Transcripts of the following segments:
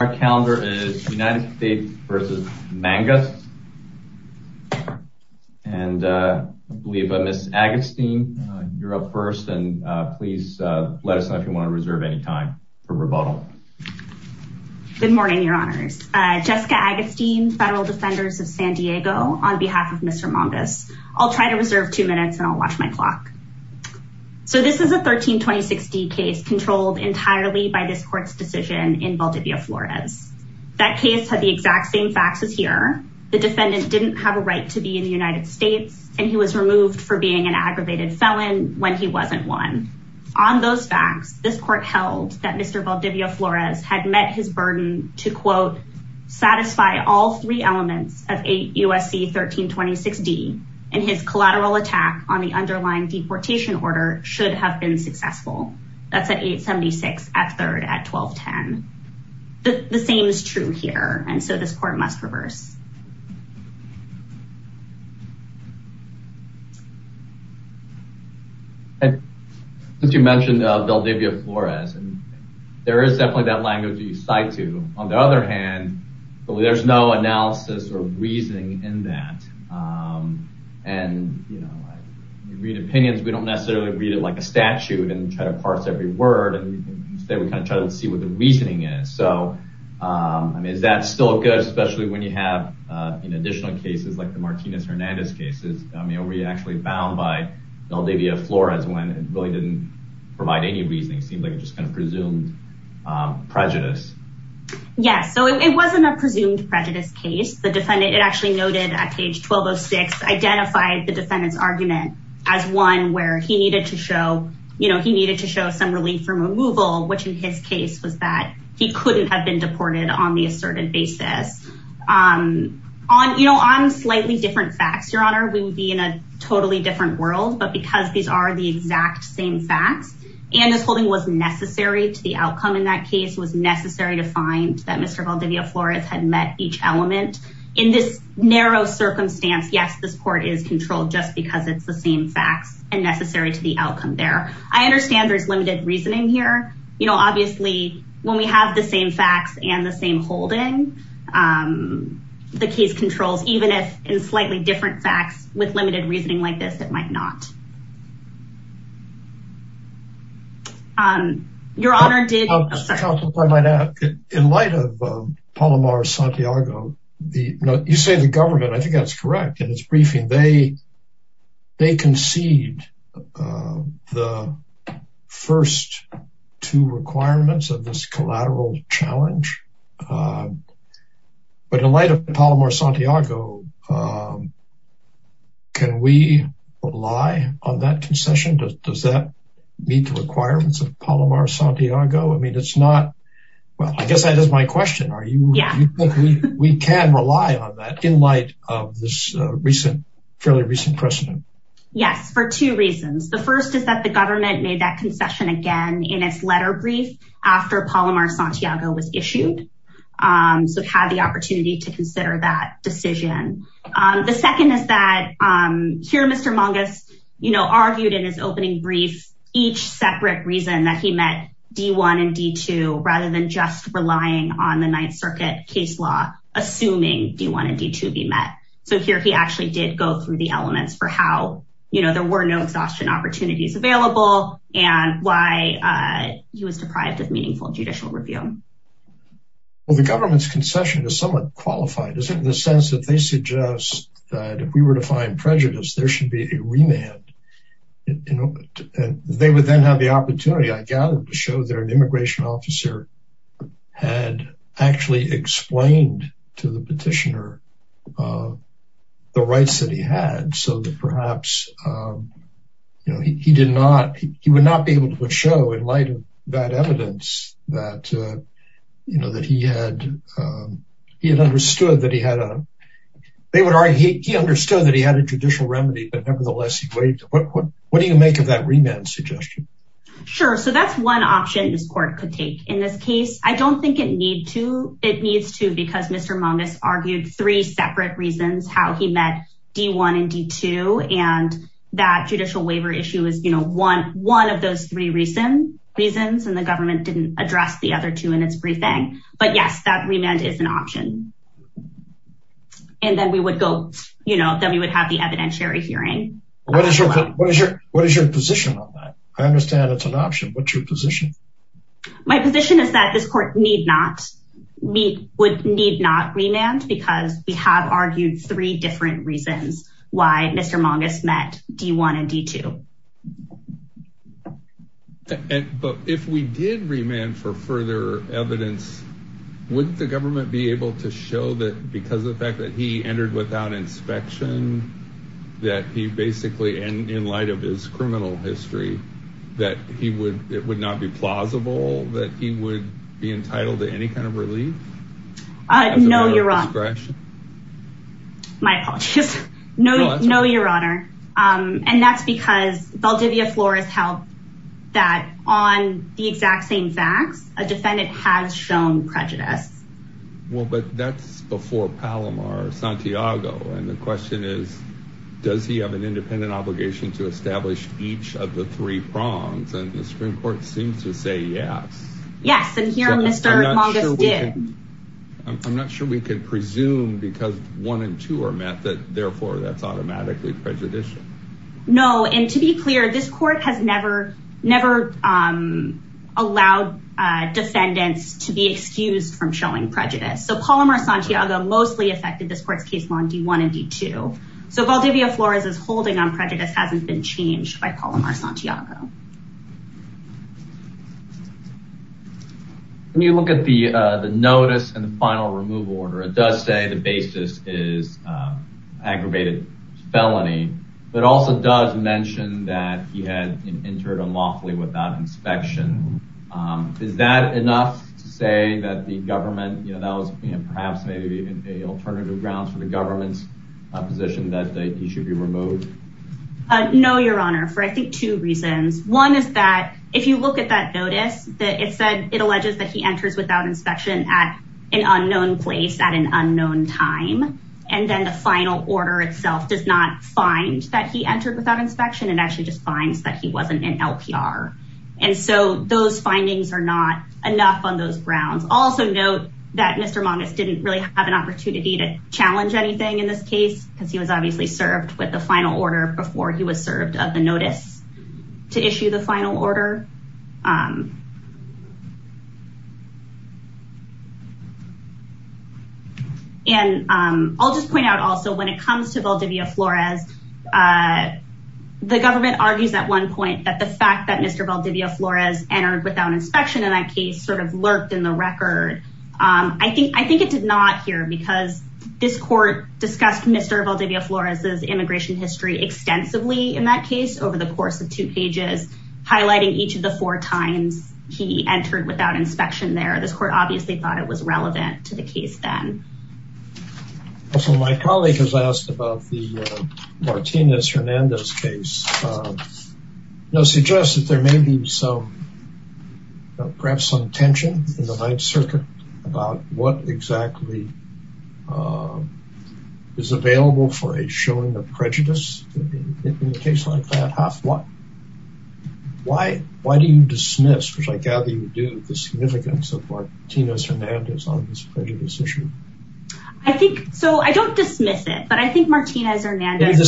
Our calendar is United States v. Mangas and I believe Ms. Agatstein, you're up first. And please let us know if you want to reserve any time for rebuttal. Good morning, your honors. Jessica Agatstein, federal defenders of San Diego. On behalf of Mr. Mangas, I'll try to reserve two minutes and I'll watch my clock. So this is a 1326 D case controlled entirely by this court's decision in Valdivia Flores. That case had the exact same facts as here. The defendant didn't have a right to be in the United States and he was removed for being an aggravated felon when he wasn't one. On those facts, this court held that Mr. Valdivia Flores had met his burden to quote, satisfy all three elements of USC 1326 D and his collateral attack on the underlying deportation order should have been successful. That's at 876 at third at 1210. The same is true here and so this court must reverse. Since you mentioned Valdivia Flores, there is definitely that language that you cite to. On the other hand, there's no analysis or reasoning in that. When we read opinions, we don't necessarily read it like a statute and try to parse every word. Instead, we try to see what the reasoning is. Is that still good, especially when you have additional cases like the Martinez-Hernandez cases? Were you actually bound by Valdivia Flores when it really didn't provide any reasoning? It seemed like it just presumed prejudice. Yes, so it wasn't a presumed prejudice case. It actually noted at page 1206, identified the defendant's argument as one where he needed to show some relief from removal, which in his case was that he couldn't have been deported on the asserted basis. On slightly different facts, your honor, we would be in a totally different world, but because these are the exact same facts and this holding was necessary to the outcome in that case, was necessary to find that Mr. Valdivia Flores had met each element in this narrow circumstance, yes, this court is controlled just because it's the same facts and necessary to the outcome there. I understand there's limited reasoning here. You know, obviously when we have the same facts and the same holding, the case controls, even if in slightly different facts with limited reasoning like this, it might not. Your honor did... In light of Palomar-Santiago, you say the government, I think that's correct and it's briefing. They concede the first two requirements of this collateral challenge. But in light of Palomar-Santiago, can we rely on that concession? Does that meet the requirements of Palomar-Santiago? I mean, it's not, well, I guess that is my question. We can rely on that in light of this recent, fairly recent precedent. Yes, for two reasons. The first is that the government made that concession again in its letter brief after Palomar-Santiago was issued. So it had the opportunity to consider that decision. The second is that here Mr. Mangas, you know, argued in his opening brief, each separate reason that he met D-1 and D-2, rather than just relying on the Ninth Circuit case law, assuming D-1 and D-2 be met. So here he actually did go through the elements for how, you know, there were no judicial review. Well, the government's concession is somewhat qualified, isn't it, in the sense that they suggest that if we were to find prejudice, there should be a remand. They would then have the opportunity, I gather, to show that an immigration officer had actually explained to the petitioner the rights that he had. So that perhaps, you know, he did not, he would not be able to show in light of that evidence that, you know, that he had, he had understood that he had a, they would argue he understood that he had a judicial remedy, but nevertheless, what do you make of that remand suggestion? Sure. So that's one option this court could take in this case. I don't think it need to, it needs to, because Mr. Mangas argued three separate reasons how he met D-1 and D-2, and that judicial waiver issue is, you know, one, one of those three recent reasons, and the government didn't address the other two in its briefing. But yes, that remand is an option. And then we would go, you know, then we would have the evidentiary hearing. What is your, what is your, what is your position on that? I understand it's an option. What's your position? My position is that this court need not, we would need not remand because we have argued three different reasons why Mr. Mangas met D-1 and D-2. But if we did remand for further evidence, wouldn't the government be able to show that because of the fact that he entered without inspection, that he basically, and in light of his criminal history, that he would, it would not be plausible that he would be entitled to any kind of relief? No, you're wrong. My apologies. No, no, your honor. And that's because Valdivia Flores held that on the exact same facts, a defendant has shown prejudice. Well, but that's before Palomar Santiago. And the question is, does he have an independent obligation to establish each of the I'm not sure we can presume because one and two are met that therefore that's automatically prejudicial. No. And to be clear, this court has never, never allowed defendants to be excused from showing prejudice. So Palomar Santiago mostly affected this court's case on D-1 and D-2. So Valdivia Flores is holding on prejudice hasn't been changed by Palomar Santiago. When you look at the, the notice and the final removal order, it does say the basis is aggravated felony, but also does mention that he had entered unlawfully without inspection. Is that enough to say that the government, you know, that was perhaps maybe an alternative grounds for the government's position that he should be removed? No, your honor, for I think two reasons. One is that if you look at that notice that it said, it alleges that he enters without inspection at an unknown place at an unknown time. And then the final order itself does not find that he entered without inspection and actually just finds that he wasn't in LPR. And so those findings are not enough on those grounds. Also note that Mr. Mangas didn't really have an opportunity to challenge anything in this case because he was obviously served with final order before he was served of the notice to issue the final order. And I'll just point out also when it comes to Valdivia Flores, the government argues at one point that the fact that Mr. Valdivia Flores entered without inspection in that case sort of lurked in the record. I think, I think it did not here because this court discussed Mr. Valdivia Flores' immigration history extensively in that case over the course of two pages, highlighting each of the four times he entered without inspection there. This court obviously thought it was relevant to the case then. Also, my colleague has asked about the Martinez-Hernandez case. You know, suggests that there may be some, perhaps some tension in the Ninth Circuit about what exactly is available for a showing of prejudice in a case like that, half what? Why, why do you dismiss, which I gather you do, the significance of Martinez-Hernandez on this prejudice issue? I think, so I don't dismiss it, but I think Martinez-Hernandez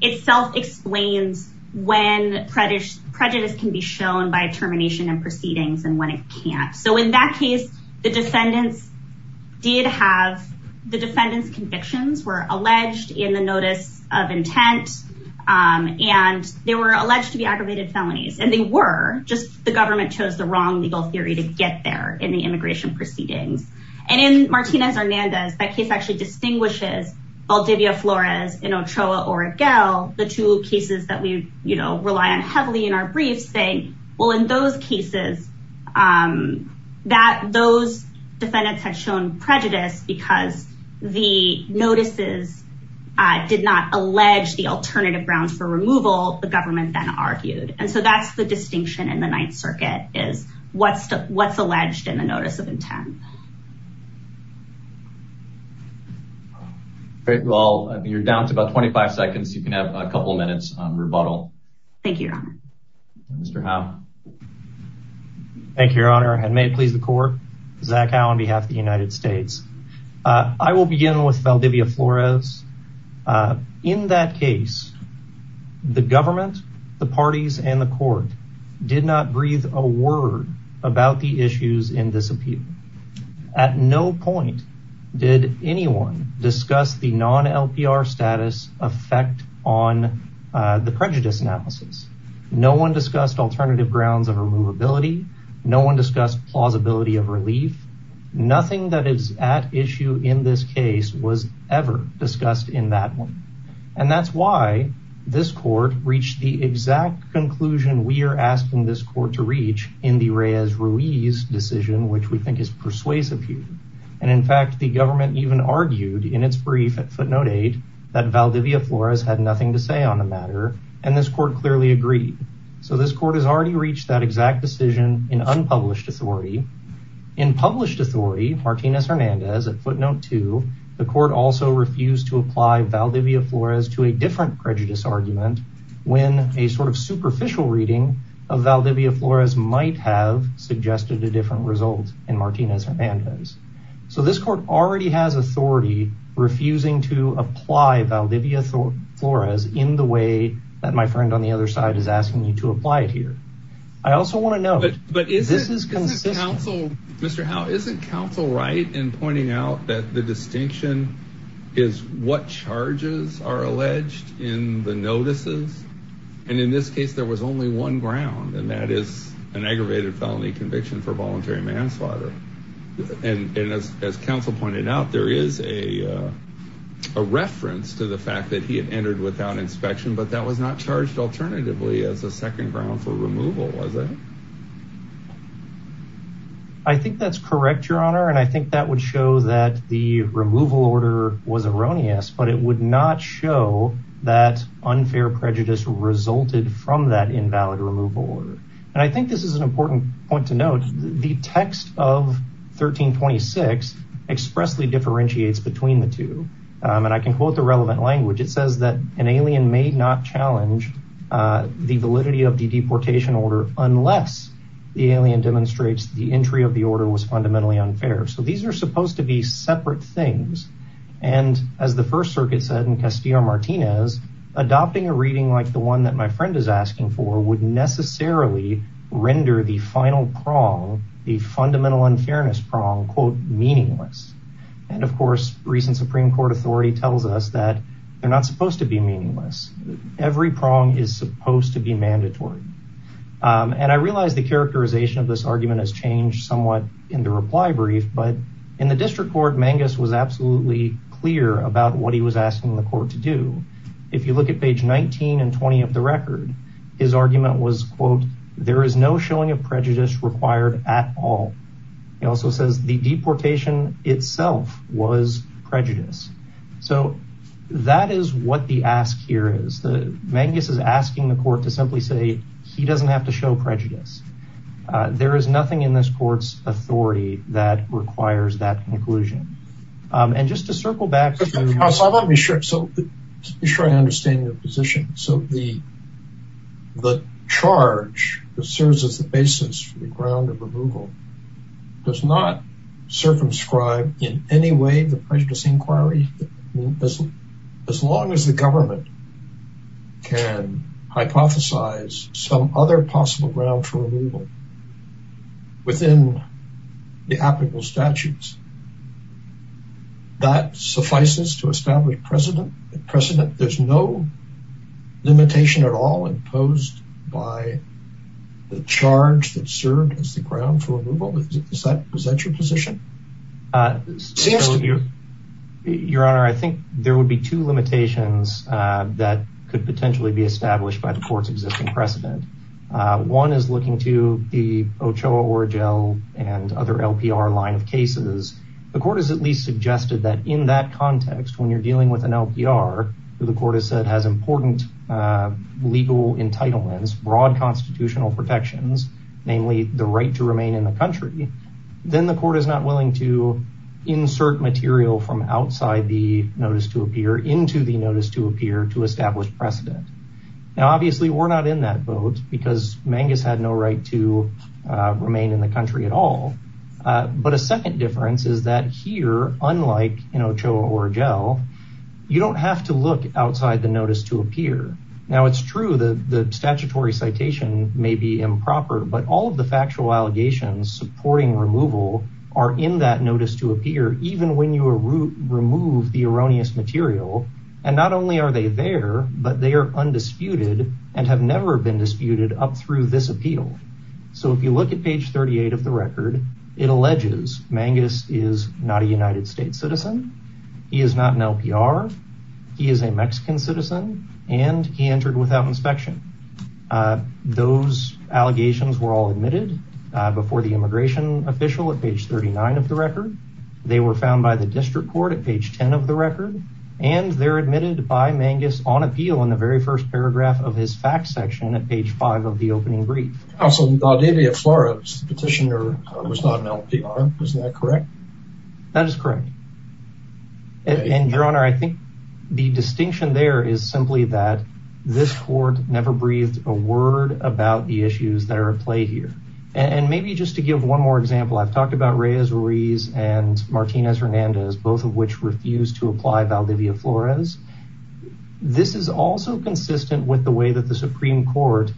itself explains when prejudice can be shown by termination and proceedings and when it can't. So in that case, the defendants did have, the defendants convictions were alleged in the notice of intent and they were alleged to be aggravated felonies and they were, just the government chose the wrong legal theory to get there in the immigration proceedings. And in Martinez-Hernandez that case actually distinguishes Valdivia Flores and Ochoa Oregel, the two cases that we, you know, rely on heavily in our briefs saying, well, in those cases that those defendants had shown prejudice because the notices did not allege the alternative grounds for removal, the government then argued. And so that's the distinction in the Ninth Circuit is what's, what's alleged in notice of intent. Great. Well, you're down to about 25 seconds. You can have a couple of minutes on rebuttal. Thank you, Your Honor. Mr. Howe. Thank you, Your Honor. And may it please the court, Zach Howe on behalf of the United States. I will begin with Valdivia Flores. In that case, the government, the parties and the court did not breathe a word about the issues in this appeal. At no point did anyone discuss the non-LPR status effect on the prejudice analysis. No one discussed alternative grounds of removability. No one discussed plausibility of relief. Nothing that this court reached the exact conclusion we are asking this court to reach in the Reyes-Ruiz decision, which we think is persuasive here. And in fact, the government even argued in its brief at footnote eight, that Valdivia Flores had nothing to say on the matter. And this court clearly agreed. So this court has already reached that exact decision in unpublished authority. In published authority, Martinez-Hernandez at footnote two, the court also refused to apply Valdivia Flores to a different prejudice argument when a sort of superficial reading of Valdivia Flores might have suggested a different result in Martinez-Hernandez. So this court already has authority refusing to apply Valdivia Flores in the way that my friend on the other side is asking me to apply it here. I also want to know, but this is consistent. Mr. Howe, isn't counsel right in distinction is what charges are alleged in the notices. And in this case, there was only one ground and that is an aggravated felony conviction for voluntary manslaughter. And as counsel pointed out, there is a reference to the fact that he had entered without inspection, but that was not charged alternatively as a second ground for removal, was it? I think that's correct, your I think that would show that the removal order was erroneous, but it would not show that unfair prejudice resulted from that invalid removal order. And I think this is an important point to note. The text of 1326 expressly differentiates between the two. And I can quote the relevant language. It says that an alien may not challenge the validity of the deportation order unless the alien demonstrates the entry of the order was fundamentally unfair. So these are supposed to be separate things. And as the first circuit said in Castillo Martinez, adopting a reading like the one that my friend is asking for would necessarily render the final prong, the fundamental unfairness prong, quote, meaningless. And of course, recent Supreme Court authority tells us that they're not supposed to be meaningless. Every prong is supposed to be this argument has changed somewhat in the reply brief. But in the district court, Mangus was absolutely clear about what he was asking the court to do. If you look at page 19 and 20 of the record, his argument was, quote, there is no showing of prejudice required at all. He also says the deportation itself was prejudice. So that is what the ask here is. Mangus is asking the court to simply say he doesn't have to show prejudice. There is nothing in this court's authority that requires that conclusion. And just to circle back. So just to be sure I understand your position. So the charge that serves as the basis for the ground of removal does not circumscribe in any way the prejudice inquiry. As long as the government can hypothesize some other possible ground for removal within the applicable statutes, that suffices to establish precedent precedent. There's no limitation at all imposed by the charge that served as the ground for removal. Is that your position? It seems to be. Your Honor, I think there would be two limitations that could potentially be established by the court's existing precedent. One is looking to the Ochoa, Orogel and other LPR line of cases. The court has at least suggested that in that context, when you're dealing with an LPR, the court has said has important legal entitlements, broad constitutional protections, namely the right to remain in the country. Then the court is not willing to insert material from outside the notice to appear into the notice to appear to establish precedent. Now, obviously, we're not in that boat because Mangus had no right to remain in the country at all. But a second difference is that here, unlike in Ochoa, Orogel, you don't have to look outside the notice to appear. Now, it's true that the statutory citation may be improper, but all of the factual allegations supporting removal are in that notice to appear, even when you remove the erroneous material. And not only are they there, but they are undisputed and have never been disputed up through this appeal. So if you look at page 38 of the record, it alleges Mangus is not a United States citizen. He is not an LPR. He is a Mexican citizen. And he entered without inspection. Those allegations were all admitted before the immigration official at page 39 of the record. They were found by the district court at page 10 of the record. And they're admitted by Mangus on appeal in the very first paragraph of his fact section at page five of the opening brief. Also, Valdivia Flores, the petitioner, was not an LPR. Is that correct? That is correct. And your honor, I think the distinction there is simply that this court never breathed a word about the issues that are at play here. And maybe just to give one more example, I've talked about Reyes Ruiz and Martinez Hernandez, both of which refused to apply Valdivia Flores. This is also consistent with the way that the Supreme Court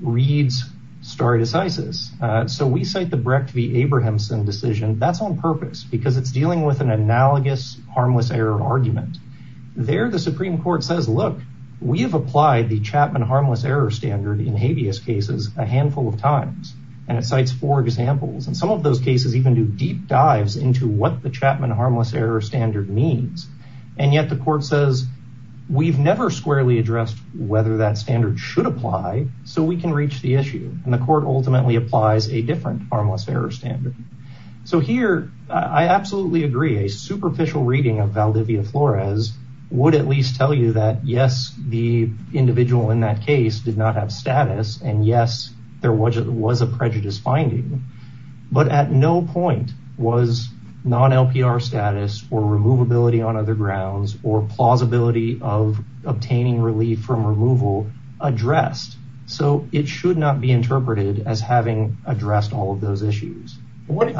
reads stare decisis. So we cite the Brecht v. Abrahamson decision. That's on purpose because it's dealing with an analogous harmless error argument. There, the Supreme Court says, look, we have applied the Chapman harmless error standard in habeas cases a handful of times. And it cites four examples. And some of those cases even do deep dives into what the Chapman harmless error standard means. And yet the court says, we've never squarely addressed whether that standard should apply so we can reach the issue. And the court ultimately applies a different harmless error standard. So here, I absolutely agree. A superficial reading of Valdivia Flores would at least tell you that, yes, the individual in that case did not have status. And yes, there was a prejudice finding. But at no point was non-LPR status or removability on other grounds or plausibility of obtaining relief from removal addressed. So it should not be interpreted as having addressed all of those arguments. You make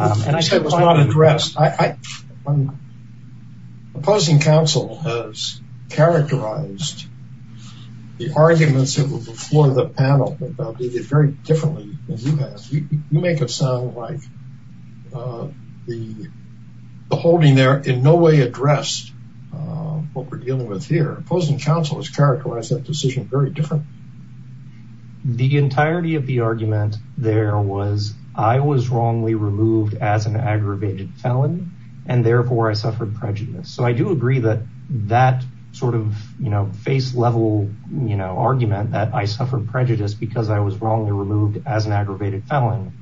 it sound like the holding there in no way addressed what we're dealing with here. Opposing counsel has characterized that decision very differently. The entirety of the argument there was, I was wrongly removed as an aggravated felon, and therefore I suffered prejudice. So I do agree that that sort of face level argument that I suffered prejudice because I was wrongly removed as an aggravated felon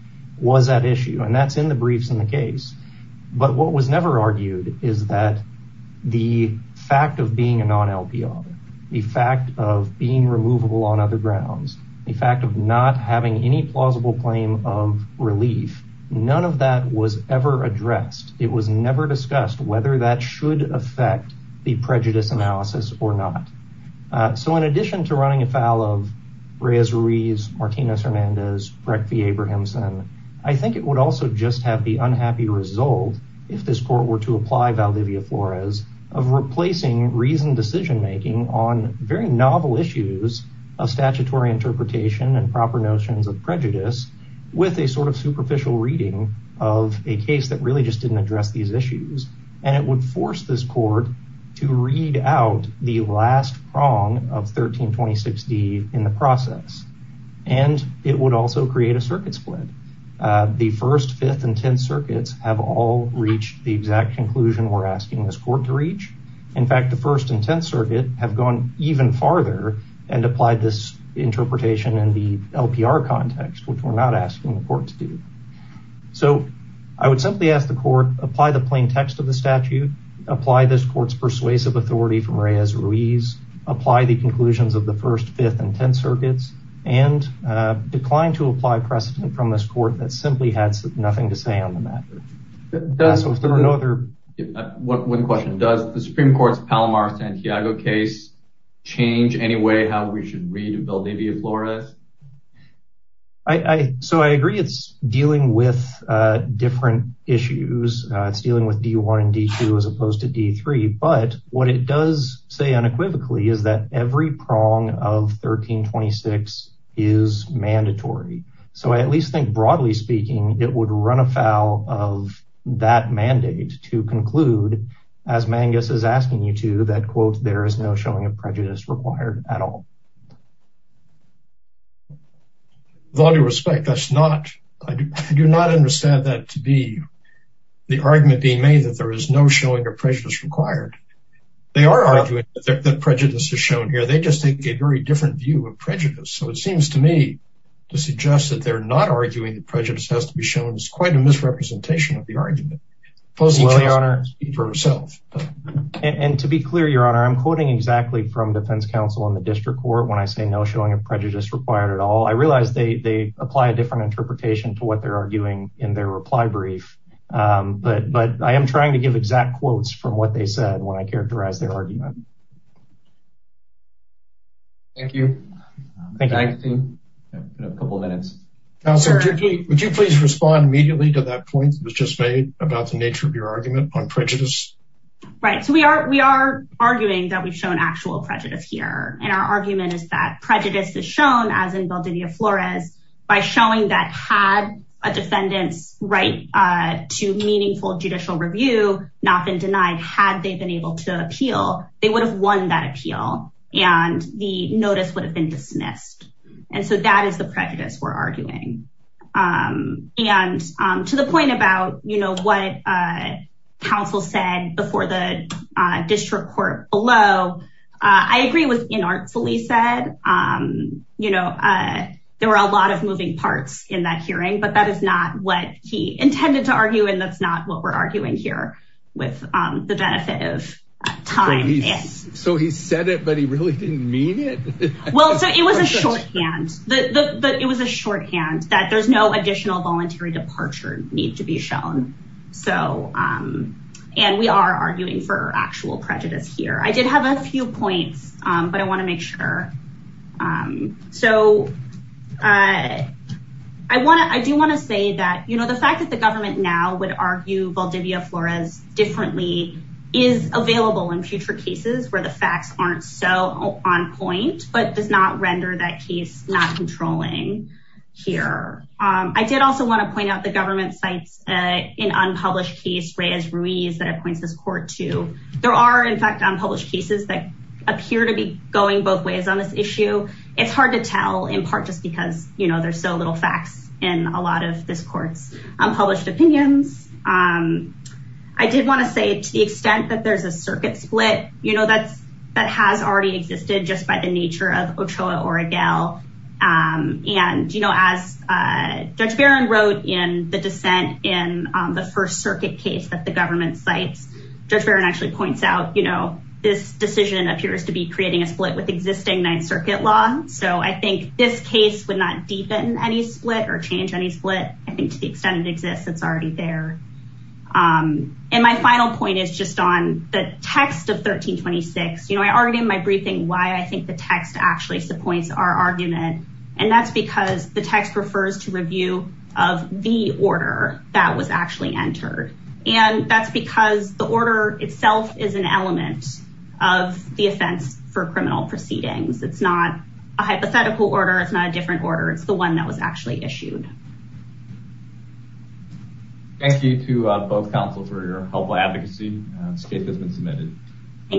was that issue. And that's in the briefs in the case. But what was never argued is that the fact of being a non-LPR, the fact of being removable on other grounds, the fact of not having any plausible claim of relief, none of that was ever addressed. It was never discussed whether that should affect the prejudice analysis or not. So in addition to running afoul of Reyes-Ruiz, Martinez-Hernandez, Breck v. Abrahamson, I think it would also just have the unhappy result, if this court were to apply Valdivia-Flores, of replacing reasoned decision making on very novel issues of statutory interpretation and proper notions of prejudice with a sort of superficial reading of a case that really just didn't address these issues. And it would force this court to read out the last prong of 1326D in the process. And it would also create a circuit split. The first, fifth, and tenth circuits have all reached the exact conclusion we're asking this court to reach. In fact, the first and tenth circuit have gone even farther and applied this interpretation in the LPR context, which we're not asking the court to do. So I would simply ask the court, apply the plain text of the statute, apply this court's persuasive authority from Reyes-Ruiz, apply the conclusions of the first, fifth, and tenth circuits, and decline to apply precedent from this court that simply has nothing to say on the matter. One question, does the Supreme Court's Palomar-Santiago case change any way how we should read Valdivia-Flores? So I agree it's dealing with different issues. It's dealing with D1 and D2 as opposed to D3. But what it does say unequivocally is that every prong of 1326 is mandatory. So I at least think broadly speaking, it would run afoul of that mandate to conclude, as Mangus is asking you to, that quote, there is no showing of prejudice required at all. With all due respect, that's not, I do not understand that to be the argument being made that there is no showing of prejudice required. They are arguing that prejudice is shown here. They just take a very different view of prejudice. So it seems to me to suggest that they're not arguing that prejudice has to be shown is quite a misrepresentation of the argument. Well, Your Honor, and to be clear, Your Honor, I'm quoting exactly from defense counsel in the district court when I say no showing of prejudice required at all. I realize they apply a different interpretation to what they're arguing in their reply brief. But I am trying to give exact quotes from what they said when I characterized their argument. Thank you. Thank you. We have a couple of minutes. Counselor, would you please respond immediately to that point that was just made about the nature of your argument on prejudice? Right. So we are arguing that we've shown actual prejudice here. And our argument is that prejudice is shown, as in Valdivia Flores, by showing that had a defendant's right to meaningful judicial review not been denied, had they been able to appeal, they would have won that appeal, and the notice would have been dismissed. And so that is the prejudice we're arguing. And to the point about, you know, what counsel said before the district court below, I agree with inartfully said, you know, there were a lot of moving parts in that hearing, but that is not what he intended to argue. And that's not what we're arguing here with the benefit of time. So he said it, but he really didn't mean it. Well, so it was a shorthand that it was a shorthand that there's no additional voluntary departure need to be shown. So and we are arguing for actual prejudice here, I did have a few points, but I want to make sure. So I want to I do want to say that, you know, the fact that the government now would argue Valdivia Flores differently, is available in future cases where the facts aren't so on point, but does not render that case not controlling here. I did also want to point out the government sites in unpublished case Reyes Ruiz that appoints this court to there are in fact unpublished cases that appear to be going both ways on this issue. It's hard to tell in part just because, you know, there's so little facts in a lot of this court's unpublished opinions. I did want to say to the extent that there's a and, you know, as Judge Barron wrote in the dissent in the First Circuit case that the government sites, Judge Barron actually points out, you know, this decision appears to be creating a split with existing Ninth Circuit law. So I think this case would not deepen any split or change any split. I think to the extent it exists, it's already there. And my final point is just on the text of 1326. You know, I argued in my briefing why I think the text actually supports our argument. And that's because the text refers to review of the order that was actually entered. And that's because the order itself is an element of the offense for criminal proceedings. It's not a hypothetical order. It's not a different order. It's the one that was submitted. Thank you.